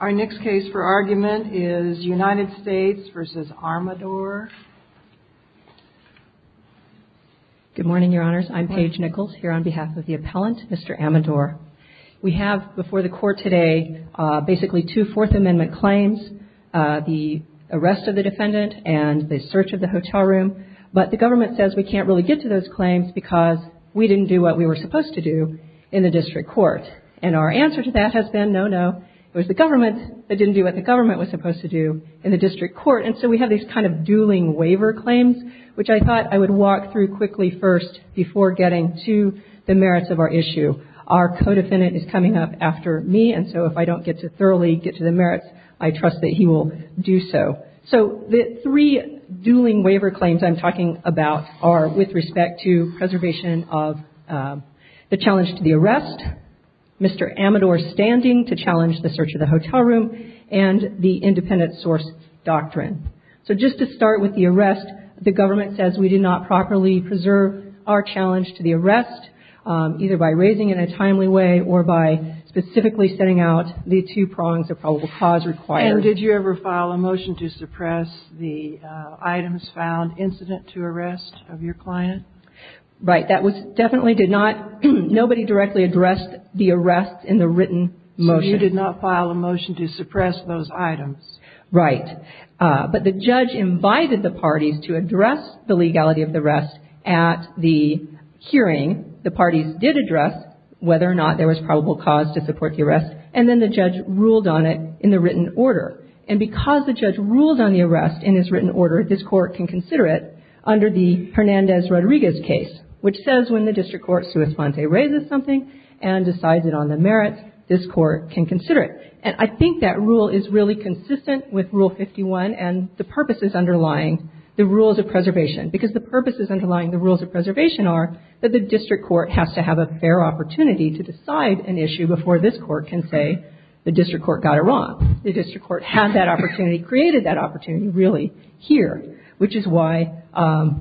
Page Nichols, Attorney for the Appellant, New Jersey Our next case for argument is United States v. Amador. Page Nichols, Attorney for the Appellant, New Jersey Good morning, Your Honors. I'm Page Nichols here on behalf of the Appellant, Mr. Amador. We have before the Court today basically two Fourth Amendment claims, the arrest of the defendant and the search of the hotel room. But the government says we can't really get to those claims because we didn't do what we were supposed to do in the district court. And our answer to that has been, no, no, it was the government that didn't do what the government was supposed to do in the district court. And so we have these kind of dueling waiver claims, which I thought I would walk through quickly first before getting to the merits of our issue. Our co-defendant is coming up after me, and so if I don't get to thoroughly get to the merits, I trust that he will do so. So the three dueling waiver claims I'm talking about are with respect to preservation of the challenge to the arrest, Mr. Amador's standing to challenge the search of the hotel room, and the independent source doctrine. So just to start with the arrest, the government says we did not properly preserve our challenge to the arrest, either by raising it in a timely way or by specifically setting out the two prongs of probable cause required. And did you ever file a motion to suppress the items found incident to arrest of your client? Right. That was definitely did not, nobody directly addressed the arrest in the written motion. So you did not file a motion to suppress those items. Right. But the judge invited the parties to address the legality of the arrest at the hearing. The parties did address whether or not there was probable cause to support the arrest, and then the judge ruled on it in the written order. And because the judge ruled on the arrest in his written order, this Court can consider it under the Hernandez-Rodriguez case, which says when the district court sua sponte raises something and decides it on the merits, this Court can consider it. And I think that rule is really consistent with Rule 51 and the purposes underlying the rules of preservation, because the purposes underlying the rules of preservation are that the district court has to have a fair opportunity to decide an issue before this Court can say the district court got it wrong. The district court has that opportunity, created that opportunity really here, which is why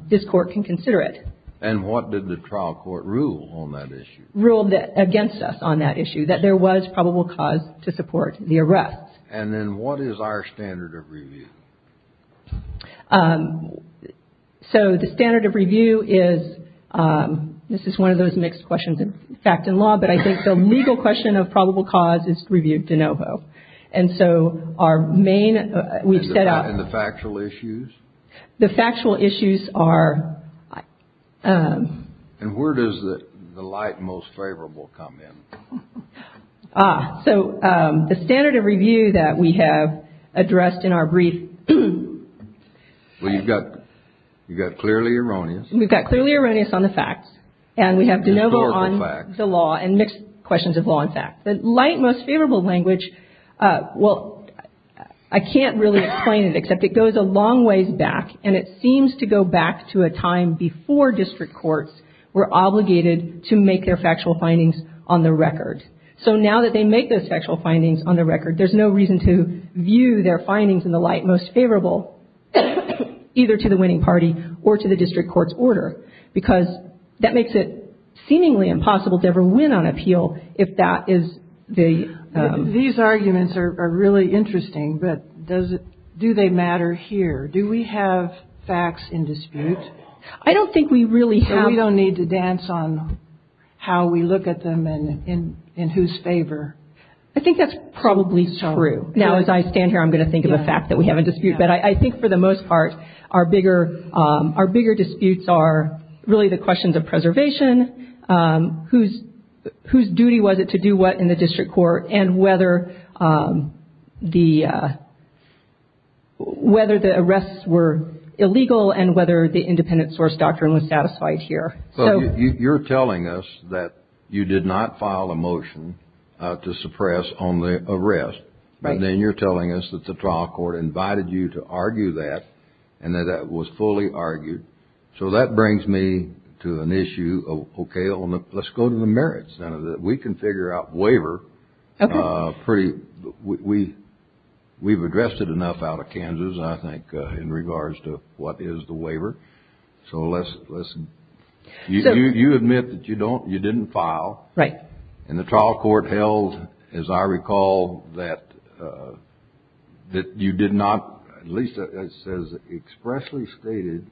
this Court can consider it. And what did the trial court rule on that issue? Ruled against us on that issue, that there was probable cause to support the arrest. And then what is our standard of review? So the standard of review is, this is one of those mixed questions of fact and law, but I think the legal question of probable cause is reviewed de novo. And so our main, we've set up. And the factual issues? The factual issues are. And where does the light most favorable come in? So the standard of review that we have addressed in our brief. Well, you've got clearly erroneous. We've got clearly erroneous on the facts. And we have de novo on the law and mixed questions of law and fact. The light most favorable language, well, I can't really explain it, except it goes a long ways back. And it seems to go back to a time before district courts were obligated to make their factual findings on the record. So now that they make those factual findings on the record, there's no reason to view their findings in the light most favorable, either to the winning party or to the district court's order. Because that makes it seemingly impossible to ever win on appeal if that is the... These arguments are really interesting, but do they matter here? Do we have facts in dispute? I don't think we really have. And we don't need to dance on how we look at them and in whose favor. I think that's probably true. Now, as I stand here, I'm going to think of a fact that we have in dispute. But I think for the most part, our bigger disputes are really the questions of preservation, whose duty was it to do what in the district court, and whether the arrests were illegal and whether the independent source doctrine was satisfied here. So you're telling us that you did not file a motion to suppress on the arrest. And then you're telling us that the trial court invited you to argue that and that that was fully argued. So that brings me to an issue. Okay, let's go to the merits. We can figure out waiver. We've addressed it enough out of Kansas, I think, in regards to what is the waiver. So let's... You admit that you didn't file. Right. And the trial court held, as I recall, that you did not, at least as it says, expressly stated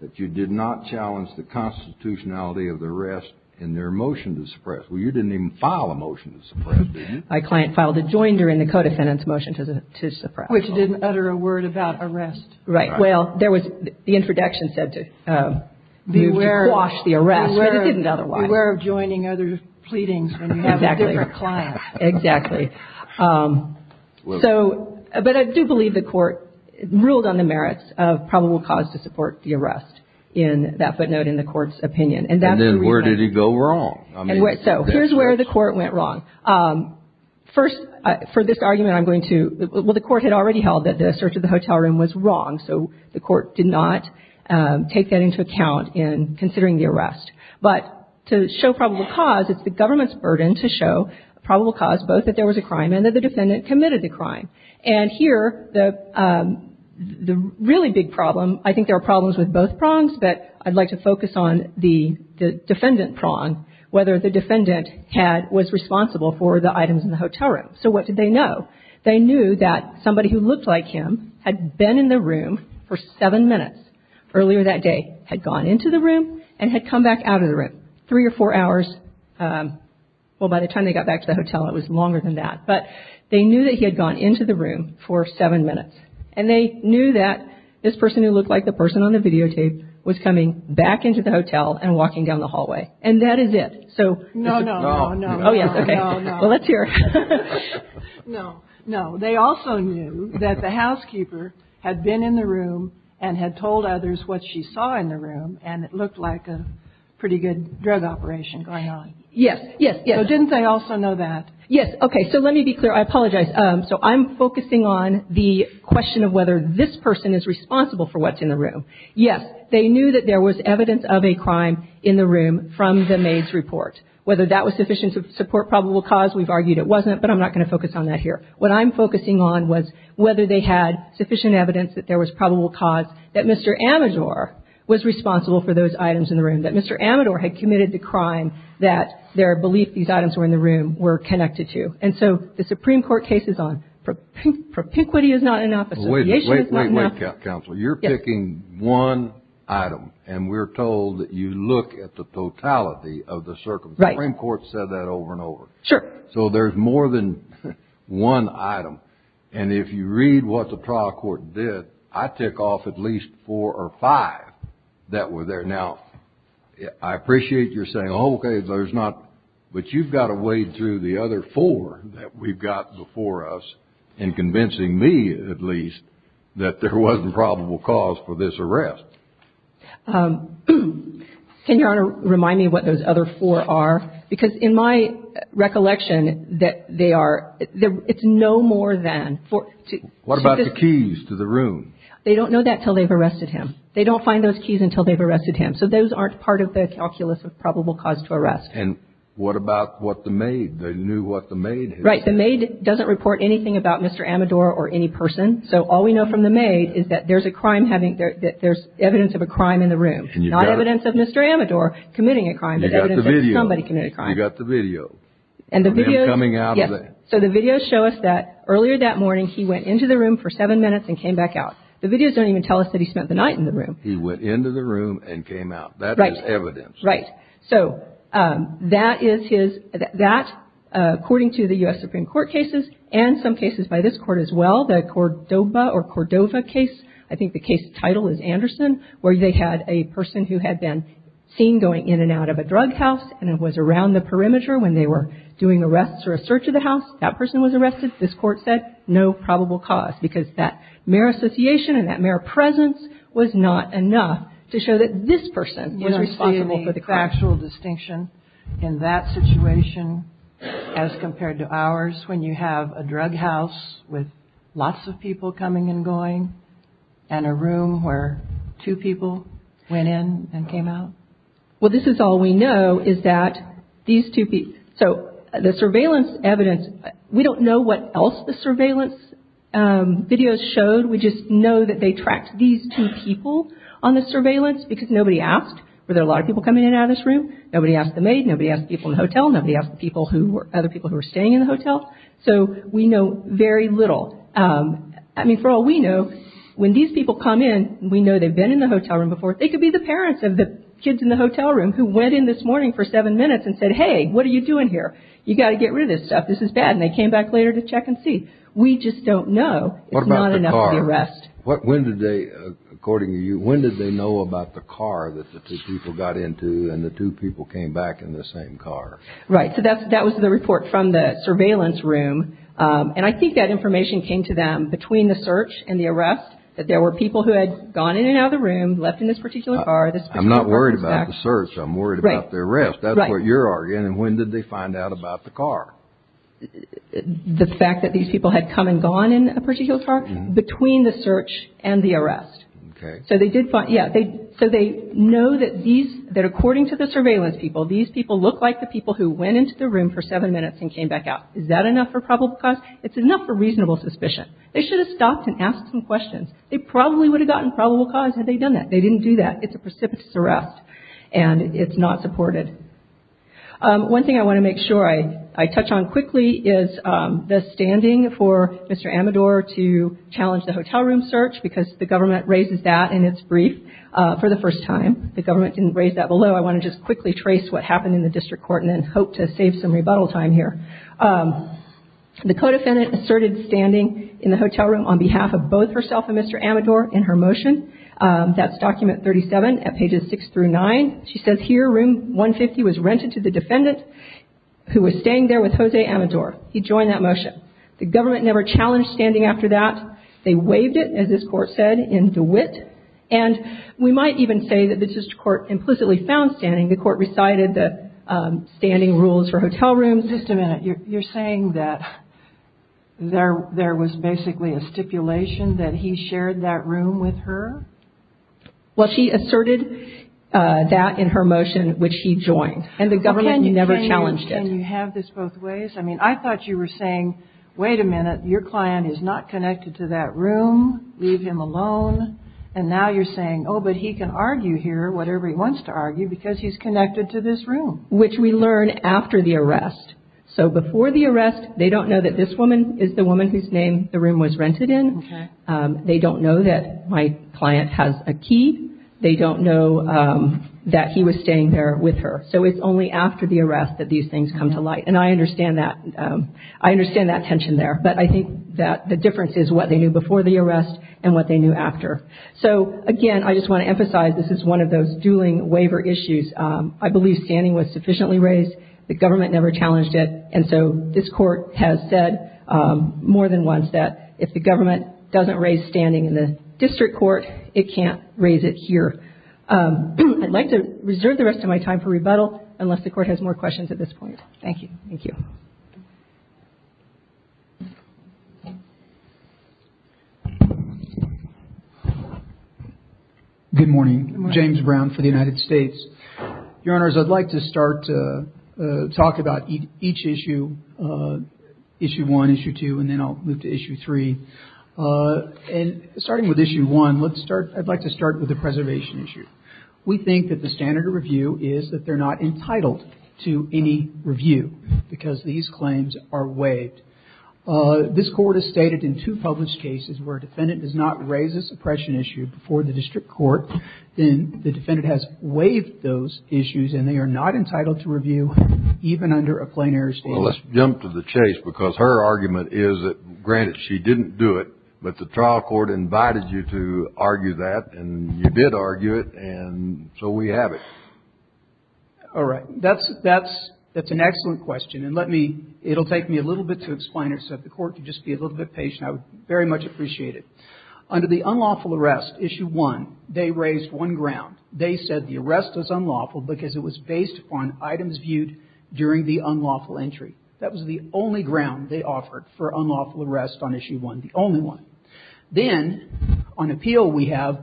that you did not challenge the constitutionality of the arrest in their motion to suppress. Well, you didn't even file a motion to suppress, did you? My client filed a joinder in the co-defendant's motion to suppress. Which didn't utter a word about arrest. Right. Well, there was... the introduction said to quash the arrest, but it didn't otherwise. Beware of joining other pleadings when you have a different client. Exactly. Exactly. So, but I do believe the court ruled on the merits of probable cause to support the arrest in that footnote in the court's opinion. And then where did it go wrong? So here's where the court went wrong. First, for this argument, I'm going to... well, the court had already held that the search of the hotel room was wrong. So the court did not take that into account in considering the arrest. But to show probable cause, it's the government's burden to show probable cause, both that there was a crime and that the defendant committed the crime. And here, the really big problem, I think there are problems with both prongs, but I'd like to focus on the defendant prong, whether the defendant had... was responsible for the items in the hotel room. So what did they know? They knew that somebody who looked like him had been in the room for seven minutes earlier that day, had gone into the room and had come back out of the room, three or four hours. Well, by the time they got back to the hotel, it was longer than that. But they knew that he had gone into the room for seven minutes. And they knew that this person who looked like the person on the videotape was coming back into the hotel and walking down the hallway. And that is it. So... No, no, no, no. Oh, yes. Well, let's hear it. No, no. They also knew that the housekeeper had been in the room and had told others what she saw in the room, and it looked like a pretty good drug operation going on. Yes, yes, yes. So didn't they also know that? Yes. Okay. So let me be clear. I apologize. So I'm focusing on the question of whether this person is responsible for what's in the room. Yes, they knew that there was evidence of a crime in the room from the maid's report. Whether that was sufficient to support probable cause, we've argued it wasn't, but I'm not going to focus on that here. What I'm focusing on was whether they had sufficient evidence that there was probable cause, that Mr. Amador was responsible for those items in the room, that Mr. Amador had committed the crime that their belief these items were in the room were connected to. And so the Supreme Court case is on. Propinquity is not enough. Wait, wait, wait, counsel. You're picking one item, and we're told that you look at the totality of the circumstances. Right. The Supreme Court said that over and over. Sure. So there's more than one item. And if you read what the trial court did, I tick off at least four or five that were there. Now, I appreciate your saying, oh, okay, there's not. But you've got to wade through the other four that we've got before us in convincing me, at least, that there wasn't probable cause for this arrest. Can Your Honor remind me what those other four are? Because in my recollection, they are, it's no more than. What about the keys to the room? They don't know that until they've arrested him. They don't find those keys until they've arrested him. So those aren't part of the calculus of probable cause to arrest. And what about what the maid, they knew what the maid had said. Right. The maid doesn't report anything about Mr. Amador or any person. So all we know from the maid is that there's a crime having, there's evidence of a crime in the room. Not evidence of Mr. Amador committing a crime. You've got the video. Somebody committing a crime. You've got the video. And the video. The man coming out of the. Yes. So the videos show us that earlier that morning, he went into the room for seven minutes and came back out. The videos don't even tell us that he spent the night in the room. He went into the room and came out. Right. That is evidence. Right. So that is his, that, according to the U.S. Supreme Court cases and some cases by this court as well, the Cordoba or Cordova case, I think the case title is Anderson, where they had a person who had been seen going in and out of a drug house and was around the perimeter when they were doing arrests or a search of the house. That person was arrested. This Court said no probable cause because that mayor association and that mayor presence was not enough to show that this person was responsible for the crime. You don't see any factual distinction in that situation as compared to ours when you have a drug house with lots of people coming and going and a room where two people went in and came out? Well, this is all we know is that these two people. So the surveillance evidence, we don't know what else the surveillance videos showed. We just know that they tracked these two people on the surveillance because nobody asked. Were there a lot of people coming in and out of this room? Nobody asked the maid. Nobody asked people in the hotel. Nobody asked the people who were, other people who were staying in the hotel. So we know very little. I mean, for all we know, when these people come in, we know they've been in the hotel room before. They could be the parents of the kids in the hotel room who went in this morning for seven minutes and said, hey, what are you doing here? You've got to get rid of this stuff. This is bad. And they came back later to check and see. We just don't know. It's not enough to arrest. What about the car? When did they, according to you, when did they know about the car that the two people got into and the two people came back in the same car? Right. So that was the report from the surveillance room. And I think that information came to them between the search and the arrest, that there were people who had gone in and out of the room, left in this particular car. I'm not worried about the search. I'm worried about the arrest. Right. That's what you're arguing. And when did they find out about the car? The fact that these people had come and gone in a particular car, between the search and the arrest. Okay. So they did find, yeah. So they know that these, that according to the surveillance people, these people look like the people who went into the room for seven minutes and came back out. Is that enough for probable cause? It's enough for reasonable suspicion. They should have stopped and asked some questions. They probably would have gotten probable cause had they done that. They didn't do that. It's a precipitous arrest. And it's not supported. One thing I want to make sure I touch on quickly is the standing for Mr. Amador to challenge the hotel room search, because the government raises that in its brief for the first time. The government didn't raise that below. I want to just quickly trace what happened in the district court and then hope to save some rebuttal time here. The co-defendant asserted standing in the hotel room on behalf of both herself and Mr. Amador in her motion. That's document 37 at pages 6 through 9. She says here room 150 was rented to the defendant who was staying there with Jose Amador. He joined that motion. The government never challenged standing after that. They waived it, as this court said, in DeWitt. And we might even say that the district court implicitly found standing. The court recited the standing rules for hotel rooms. Just a minute. You're saying that there was basically a stipulation that he shared that room with her? Well, she asserted that in her motion, which he joined. And the government never challenged it. Can you have this both ways? I mean, I thought you were saying, wait a minute, your client is not connected to that room. Leave him alone. And now you're saying, oh, but he can argue here, whatever he wants to argue, because he's connected to this room. Which we learn after the arrest. So before the arrest, they don't know that this woman is the woman whose name the room was rented in. They don't know that my client has a key. They don't know that he was staying there with her. So it's only after the arrest that these things come to light. And I understand that. I understand that tension there. But I think that the difference is what they knew before the arrest and what they knew after. So, again, I just want to emphasize this is one of those dueling waiver issues. I believe standing was sufficiently raised. The government never challenged it. And so this Court has said more than once that if the government doesn't raise standing in the district court, it can't raise it here. I'd like to reserve the rest of my time for rebuttal, unless the Court has more questions at this point. Thank you. Thank you. Good morning. James Brown for the United States. Your Honors, I'd like to start to talk about each issue, issue one, issue two, and then I'll move to issue three. And starting with issue one, let's start, I'd like to start with the preservation issue. We think that the standard of review is that they're not entitled to any review because these claims are waived. This Court has stated in two published cases where a defendant does not raise a suppression issue before the district court, then the defendant has waived those issues and they are not entitled to review, even under a plain error standard. Well, let's jump to the case because her argument is that, granted, she didn't do it, but the trial court invited you to argue that, and you did argue it, and so we have it. All right. That's an excellent question. And let me, it'll take me a little bit to explain it so that the Court can just be a little bit patient. I would very much appreciate it. Under the unlawful arrest, issue one, they raised one ground. They said the arrest was unlawful because it was based upon items viewed during the unlawful entry. That was the only ground they offered for unlawful arrest on issue one, the only one. Then on appeal, we have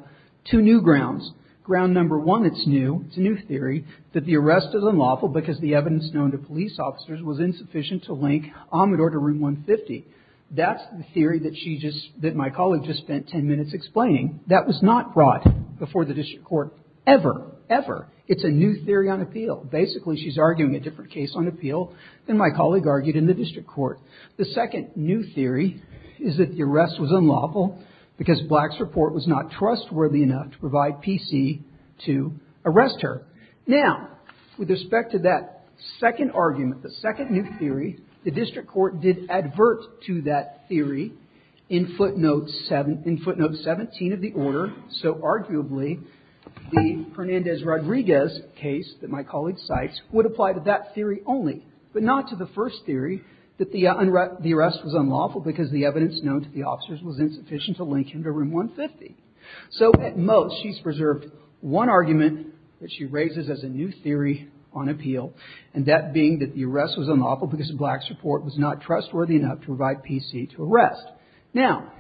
two new grounds. Ground number one, it's new. It's a new theory that the arrest is unlawful because the evidence known to police officers was insufficient to link Amador to Room 150. That's the theory that she just, that my colleague just spent ten minutes explaining. That was not brought before the district court ever, ever. It's a new theory on appeal. Basically, she's arguing a different case on appeal than my colleague argued in the district court. The second new theory is that the arrest was unlawful because Black's report was not trustworthy enough to provide PC to arrest her. Now, with respect to that second argument, the second new theory, the district court did advert to that theory in footnote 17 of the order. So arguably, the Fernandez-Rodriguez case that my colleague cites would apply to that theory only, but not to the first theory that the arrest was unlawful because the evidence known to the officers was insufficient to link him to Room 150. So at most, she's preserved one argument that she raises as a new theory on appeal, and that being that the arrest was unlawful because Black's report was not trustworthy enough to provide PC to arrest. Now,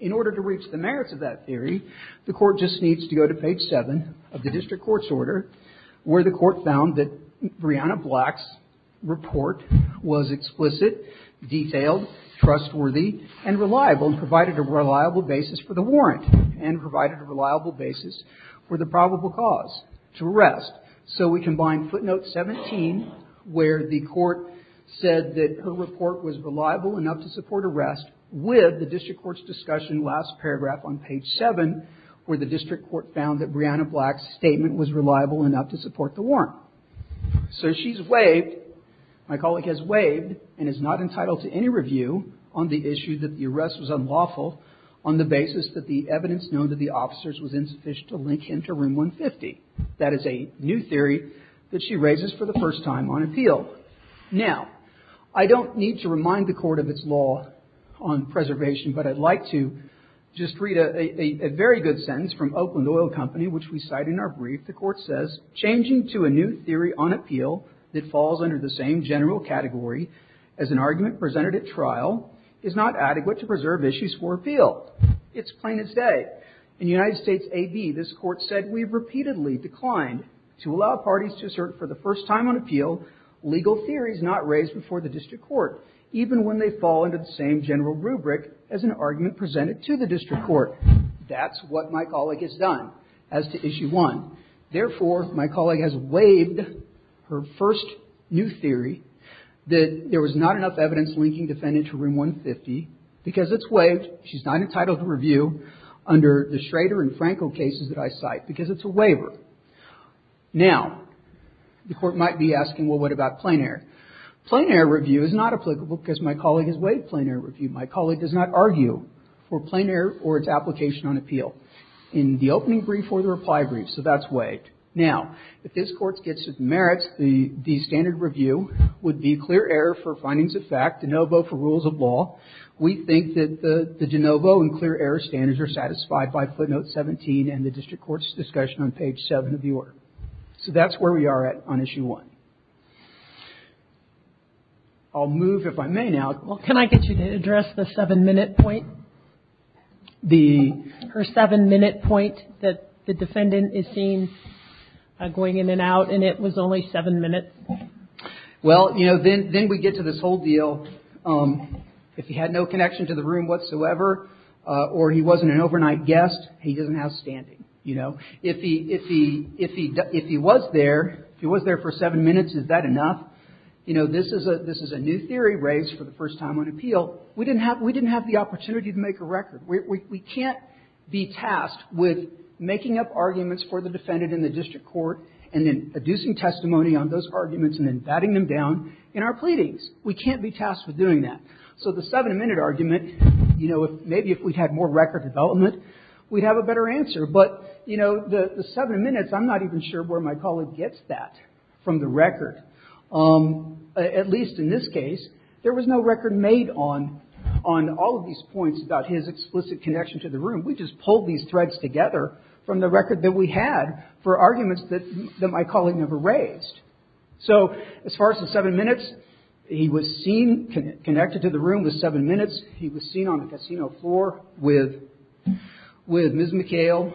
in order to reach the merits of that theory, the Court just needs to go to page 7 of the district court's order, where the Court found that Brianna Black's report was explicit, detailed, trustworthy, and reliable, and provided a reliable basis for the warrant, and provided a reliable basis for the probable cause to arrest. So we combine footnote 17, where the Court said that her report was reliable enough to support arrest, with the district court's discussion last paragraph on page 7, where the district court found that Brianna Black's statement was reliable enough to support the warrant. So she's waived. My colleague has waived and is not entitled to any review on the issue that the arrest was unlawful on the basis that the evidence known to the officers was insufficient to link him to room 150. That is a new theory that she raises for the first time on appeal. Now, I don't need to remind the Court of its law on preservation, but I'd like to just read a very good sentence from Oakland Oil Company, which we cite in our brief. The Court says, Changing to a new theory on appeal that falls under the same general category as an argument presented at trial is not adequate to preserve issues for appeal. Well, it's plain as day. In United States AB, this Court said, We've repeatedly declined to allow parties to assert for the first time on appeal legal theories not raised before the district court, even when they fall under the same general rubric as an argument presented to the district court. That's what my colleague has done as to issue 1. Therefore, my colleague has waived her first new theory that there was not enough evidence linking defendant to room 150 because it's waived. She's not entitled to review under the Schrader and Franco cases that I cite because it's a waiver. Now, the Court might be asking, well, what about plainer? Plainer review is not applicable because my colleague has waived plainer review. My colleague does not argue for plainer or its application on appeal in the opening brief or the reply brief, so that's waived. Now, if this Court gets its merits, the standard review would be clear error for findings of fact, de novo for rules of law. We think that the de novo and clear error standards are satisfied by footnote 17 and the district court's discussion on page 7 of the order. So that's where we are at on issue 1. I'll move, if I may now. Well, can I get you to address the 7-minute point? The? Her 7-minute point that the defendant is seen going in and out, and it was only 7 minutes. Well, you know, then we get to this whole deal. If he had no connection to the room whatsoever or he wasn't an overnight guest, he doesn't have standing. You know? If he was there, if he was there for 7 minutes, is that enough? You know, this is a new theory raised for the first time on appeal. We didn't have the opportunity to make a record. We can't be tasked with making up arguments for the defendant in the district court and then adducing testimony on those arguments and then batting them down in our pleadings. We can't be tasked with doing that. So the 7-minute argument, you know, maybe if we had more record development, we'd have a better answer. But, you know, the 7 minutes, I'm not even sure where my colleague gets that from the record, at least in this case. There was no record made on all of these points about his explicit connection to the room. We just pulled these threads together from the record that we had for arguments that my colleague never raised. So as far as the 7 minutes, he was seen connected to the room with 7 minutes. He was seen on the casino floor with Ms. McHale.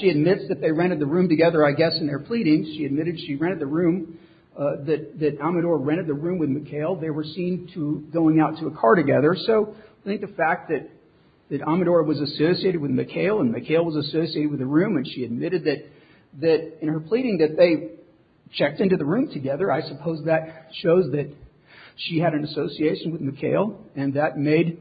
She admits that they rented the room together, I guess, in their pleadings. She admitted she rented the room, that Amador rented the room with McHale. They were seen going out to a car together. So I think the fact that Amador was associated with McHale and McHale was associated with the room and she admitted that in her pleading that they checked into the room together, I suppose that shows that she had an association with McHale and that made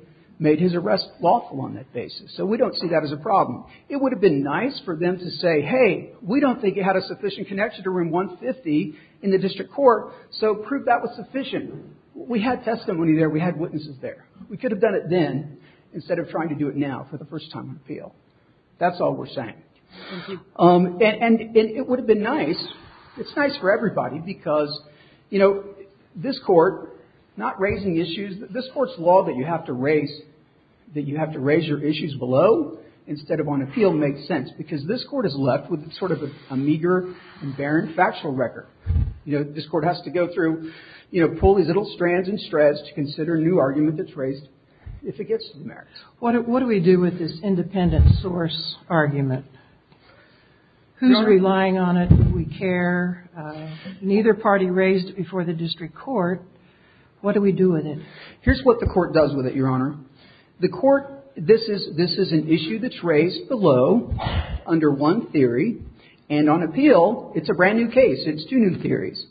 his arrest lawful on that basis. So we don't see that as a problem. It would have been nice for them to say, hey, we don't think you had a sufficient connection to Room 150 in the district court, so prove that was sufficient. We had testimony there. We had witnesses there. We could have done it then instead of trying to do it now for the first time on appeal. That's all we're saying. And it would have been nice, it's nice for everybody because, you know, this Court, not raising issues, this Court's law that you have to raise, that you have to raise your issues below instead of on appeal makes sense because this Court is left with sort of a meager and barren factual record. You know, this Court has to go through, you know, pull these little strands and What do we do with this independent source argument? Who's relying on it? Do we care? Neither party raised it before the district court. What do we do with it? Here's what the Court does with it, Your Honor. The Court, this is an issue that's raised below under one theory, and on appeal, it's a brand-new case. It's two new theories.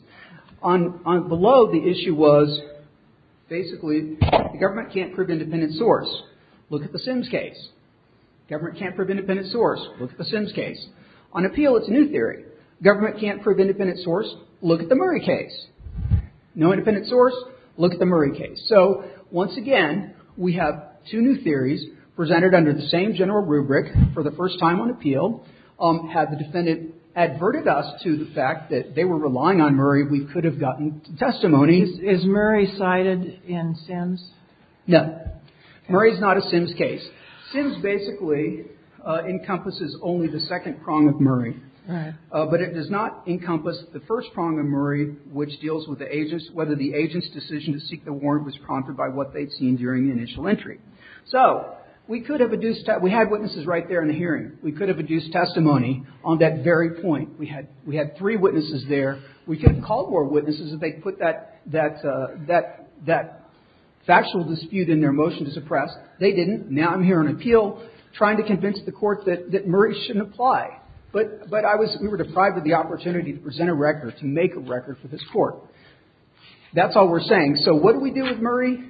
On below, the issue was basically the government can't prove independent source. Look at the Sims case. Government can't prove independent source. Look at the Sims case. On appeal, it's a new theory. Government can't prove independent source. Look at the Murray case. No independent source. Look at the Murray case. So, once again, we have two new theories presented under the same general rubric for the first time on appeal. Had the defendant adverted us to the fact that they were relying on Murray, we could have gotten testimonies. Is Murray cited in Sims? No. Murray's not a Sims case. Sims basically encompasses only the second prong of Murray. Right. But it does not encompass the first prong of Murray, which deals with the agents, whether the agent's decision to seek the warrant was prompted by what they'd seen during the initial entry. So we could have adduced to that. We had witnesses right there in the hearing. We could have adduced testimony on that very point. We had three witnesses there. We could have called more witnesses if they put that factual dispute in their motion to suppress. They didn't. Now I'm here on appeal trying to convince the Court that Murray shouldn't apply. But we were deprived of the opportunity to present a record, to make a record for this Court. That's all we're saying. So what do we do with Murray,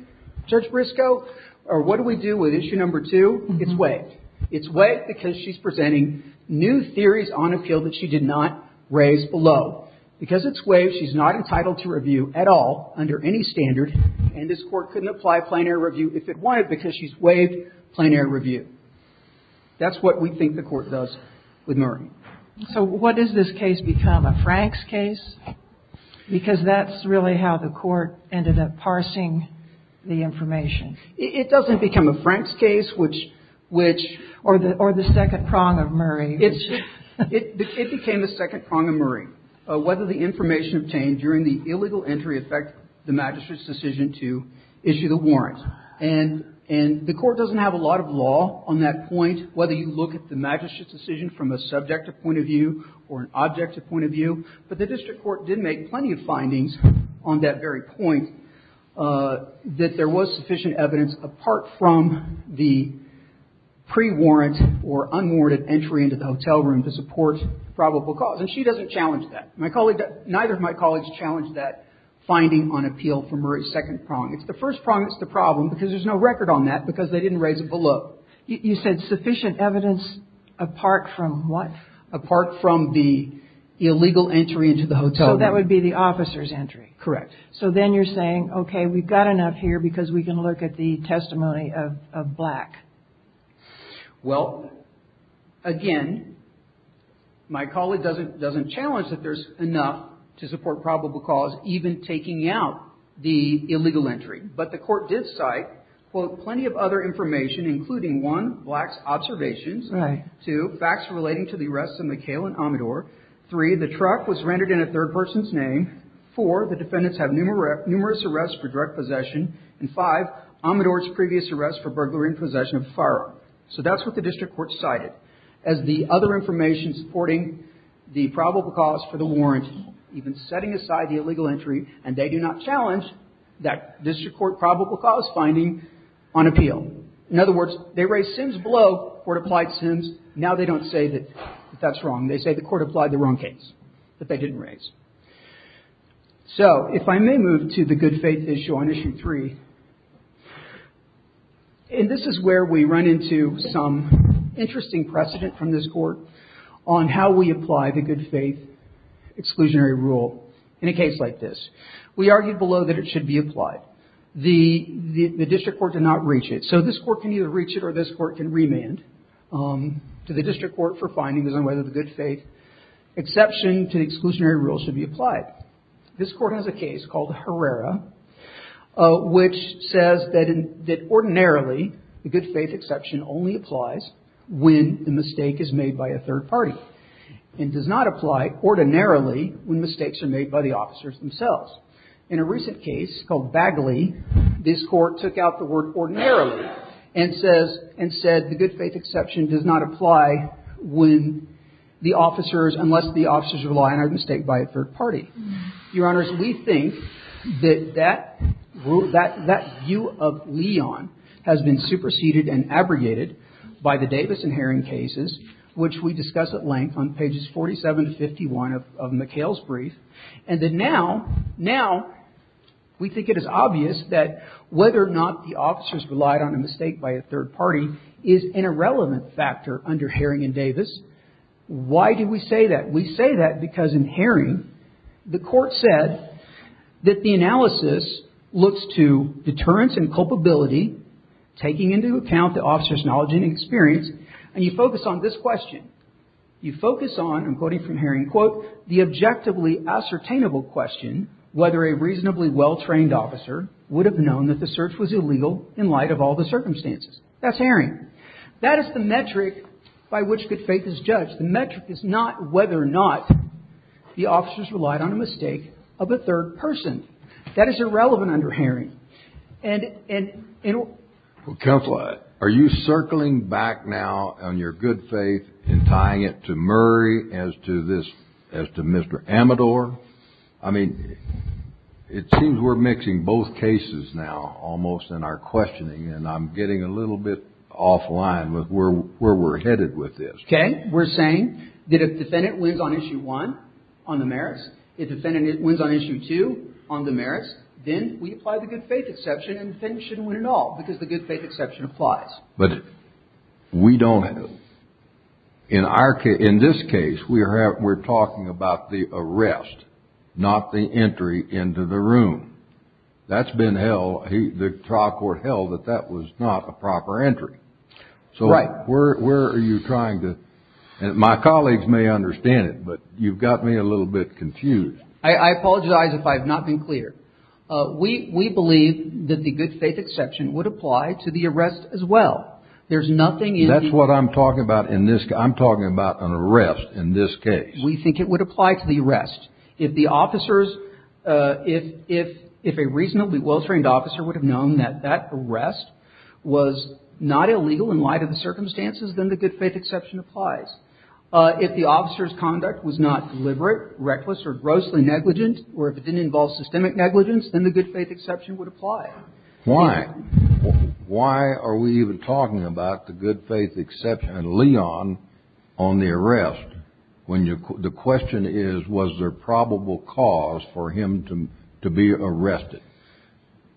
Judge Briscoe? Or what do we do with issue number two? It's way. It's way because she's presenting new theories on appeal that she did not raise below. Because it's way, she's not entitled to review at all under any standard. And this Court couldn't apply plenary review if it wanted because she's waived plenary review. That's what we think the Court does with Murray. So what does this case become, a Franks case? Because that's really how the Court ended up parsing the information. It doesn't become a Franks case, which — Or the second prong of Murray. It became the second prong of Murray. Whether the information obtained during the illegal entry affect the magistrate's decision to issue the warrant. And the Court doesn't have a lot of law on that point, whether you look at the magistrate's decision from a subjective point of view or an objective point of view. But the district court did make plenty of findings on that very point, that there was sufficient evidence apart from the pre-warrant or unwarranted entry into the hotel room to support probable cause. And she doesn't challenge that. My colleague — neither of my colleagues challenged that finding on appeal for Murray's second prong. It's the first prong that's the problem because there's no record on that because they didn't raise it below. You said sufficient evidence apart from what? Apart from the illegal entry into the hotel room. So that would be the officer's entry. Correct. So then you're saying, okay, we've got enough here because we can look at the testimony of Black. Well, again, my colleague doesn't challenge that there's enough to support probable cause, even taking out the illegal entry. But the Court did cite, quote, plenty of other information, including, one, Black's observations. Right. Two, facts relating to the arrests of McHale and Amador. Three, the truck was rendered in a third person's name. Four, the defendants have numerous arrests for drug possession. And five, Amador's previous arrests for burglary and possession of a firearm. So that's what the district court cited as the other information supporting the probable cause for the warrant, even setting aside the illegal entry, and they do not challenge that district court probable cause finding on appeal. In other words, they raise Sims below court-applied Sims. Now they don't say that that's wrong. They say the court applied the wrong case, that they didn't raise. So if I may move to the good faith issue on Issue 3. And this is where we run into some interesting precedent from this Court on how we apply the good faith exclusionary rule in a case like this. We argued below that it should be applied. The district court did not reach it. So this court can either reach it or this court can remand to the district court for findings on whether the good faith exception to the exclusionary rule should be applied. This court has a case called Herrera, which says that ordinarily the good faith exception only applies when the mistake is made by a third party. It does not apply ordinarily when mistakes are made by the officers themselves. In a recent case called Bagley, this court took out the word ordinarily and says, and said the good faith exception does not apply when the officers unless the officers rely on a mistake by a third party. Your Honors, we think that that rule, that view of Leon has been superseded and abrogated by the Davis and Herring cases, which we discuss at length on pages 47 to 51 of McHale's brief. And then now, now we think it is obvious that whether or not the officers relied on a mistake by a third party is an irrelevant factor under Herring and Davis. Why do we say that? We say that because in Herring, the court said that the analysis looks to deterrence and culpability, taking into account the officers' knowledge and experience, and you focus on this question. You focus on, I'm quoting from Herring, quote, the objectively ascertainable question whether a reasonably well-trained officer would have known that the search was illegal in light of all the circumstances. That's Herring. That is the metric by which good faith is judged. The metric is not whether or not the officers relied on a mistake of a third person. That is irrelevant under Herring. And it will – Well, counsel, are you circling back now on your good faith and tying it to Murray as to this, as to Mr. Amador? I mean, it seems we're mixing both cases now almost in our questioning, and I'm getting a little bit off line with where we're headed with this. Okay. We're saying that if the defendant wins on Issue 1 on the merits, if the defendant wins on Issue 2 on the merits, then we apply the good faith exception and the defendant shouldn't win at all because the good faith exception applies. But we don't have – in this case, we're talking about the arrest, not the entry into the room. That's been held – the trial court held that that was not a proper entry. Right. Where are you trying to – my colleagues may understand it, but you've got me a little bit confused. I apologize if I have not been clear. We believe that the good faith exception would apply to the arrest as well. There's nothing in the – That's what I'm talking about in this – I'm talking about an arrest in this case. We think it would apply to the arrest. If the officers – if a reasonably well-trained officer would have known that that arrest was not illegal in light of the circumstances, then the good faith exception applies. If the officer's conduct was not deliberate, reckless, or grossly negligent, or if it didn't involve systemic negligence, then the good faith exception would apply. Why? Why are we even talking about the good faith exception and Leon on the arrest when the question is, was there probable cause for him to be arrested?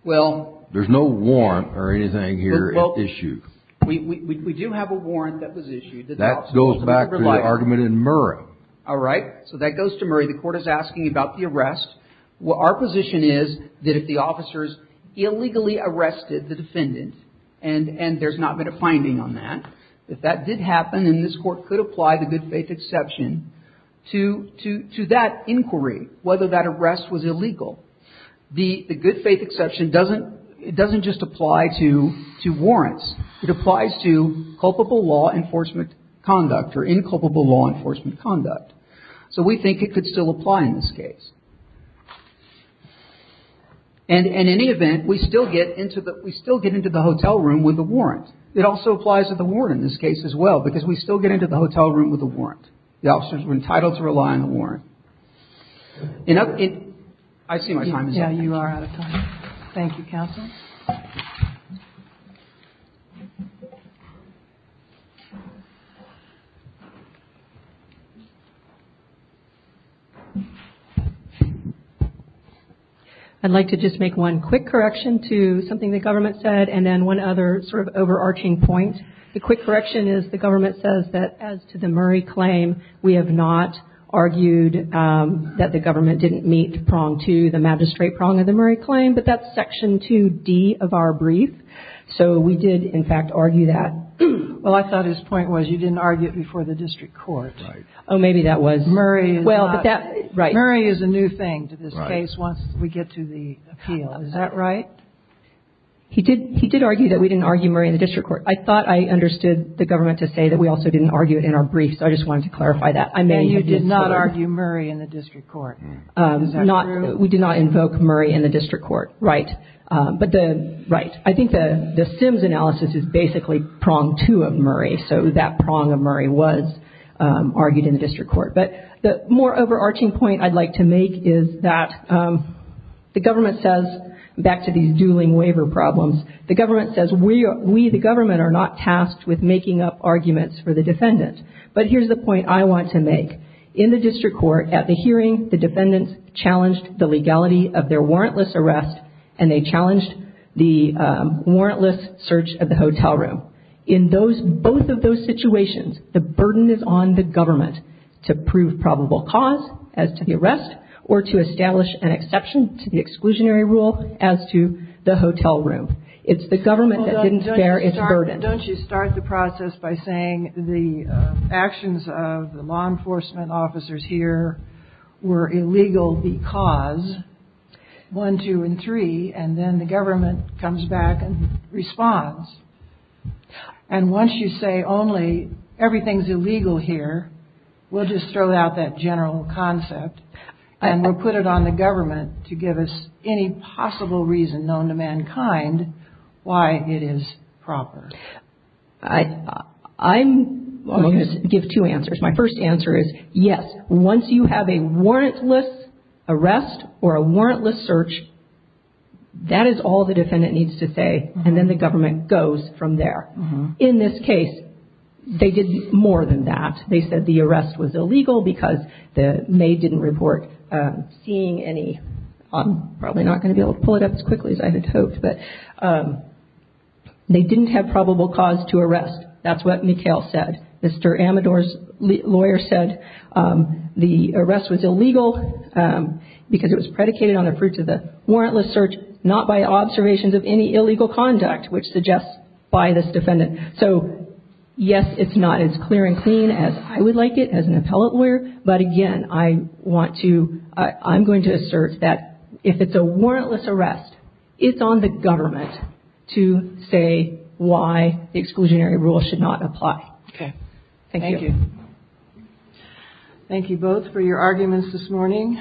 Well – There's no warrant or anything here is issued. We do have a warrant that was issued. That goes back to the argument in Murray. All right. So that goes to Murray. The court is asking about the arrest. Our position is that if the officers illegally arrested the defendant, and there's not been a finding on that, if that did happen, then this court could apply the good faith exception to that inquiry, whether that arrest was illegal. The good faith exception doesn't – it doesn't just apply to warrants. It applies to culpable law enforcement conduct or inculpable law enforcement conduct. So we think it could still apply in this case. And in any event, we still get into the – we still get into the hotel room with a warrant. It also applies to the warrant in this case as well, because we still get into the hotel room with a warrant. The officers were entitled to rely on the warrant. I see my time is up. Thank you, counsel. I'd like to just make one quick correction to something the government said, and then one other sort of overarching point. The quick correction is the government says that as to the Murray claim, we have not argued that the government didn't meet prong two, the magistrate prong of the Murray claim, but that's section 2D of our brief. So we did, in fact, argue that. Well, I thought his point was you didn't argue it before the district court. Oh, maybe that was – well, but that – right. Murray is a new thing to this case once we get to the appeal. Is that right? He did argue that we didn't argue Murray in the district court. I thought I understood the government to say that we also didn't argue it in our brief, so I just wanted to clarify that. I mean – You did not argue Murray in the district court. Is that true? We did not invoke Murray in the district court. But the – right. I think the Sims analysis is basically prong two of Murray. So that prong of Murray was argued in the district court. But the more overarching point I'd like to make is that the government says – back to these dueling waiver problems – the government says we, the government, are not tasked with making up arguments for the defendant. But here's the point I want to make. In the district court, at the hearing, the defendants challenged the legality of their warrantless arrest, and they challenged the warrantless search of the hotel room. In those – both of those situations, the burden is on the government to prove probable cause as to the arrest or to establish an exception to the exclusionary rule as to the hotel room. It's the government that didn't bear its burden. Well, don't you start – don't you start the process by saying the actions of the law enforcement officers here were illegal because, one, two, and three, and then the government comes back and responds? And once you say only everything's illegal here, we'll just throw out that general concept and we'll put it on the government to give us any possible reason known to mankind why it is proper. I'm – I'm going to give two answers. My first answer is yes, once you have a warrantless arrest or a warrantless search, that is all the defendant needs to say, and then the government goes from there. In this case, they did more than that. They said the arrest was illegal because the – they didn't report seeing any – I'm probably not going to be able to pull it up as quickly as I had hoped, but they didn't have probable cause to arrest. That's what Mikhail said. Mr. Amador's lawyer said the arrest was illegal because it was predicated on the fruits of the warrantless search, not by observations of any illegal conduct, which suggests by this defendant. So, yes, it's not as clear and clean as I would like it as an appellate lawyer, but, again, I want to – I'm going to assert that if it's a warrantless arrest, it's on the government to say why the exclusionary rule should not apply. Okay. Thank you. Thank you. Thank you both for your arguments this morning.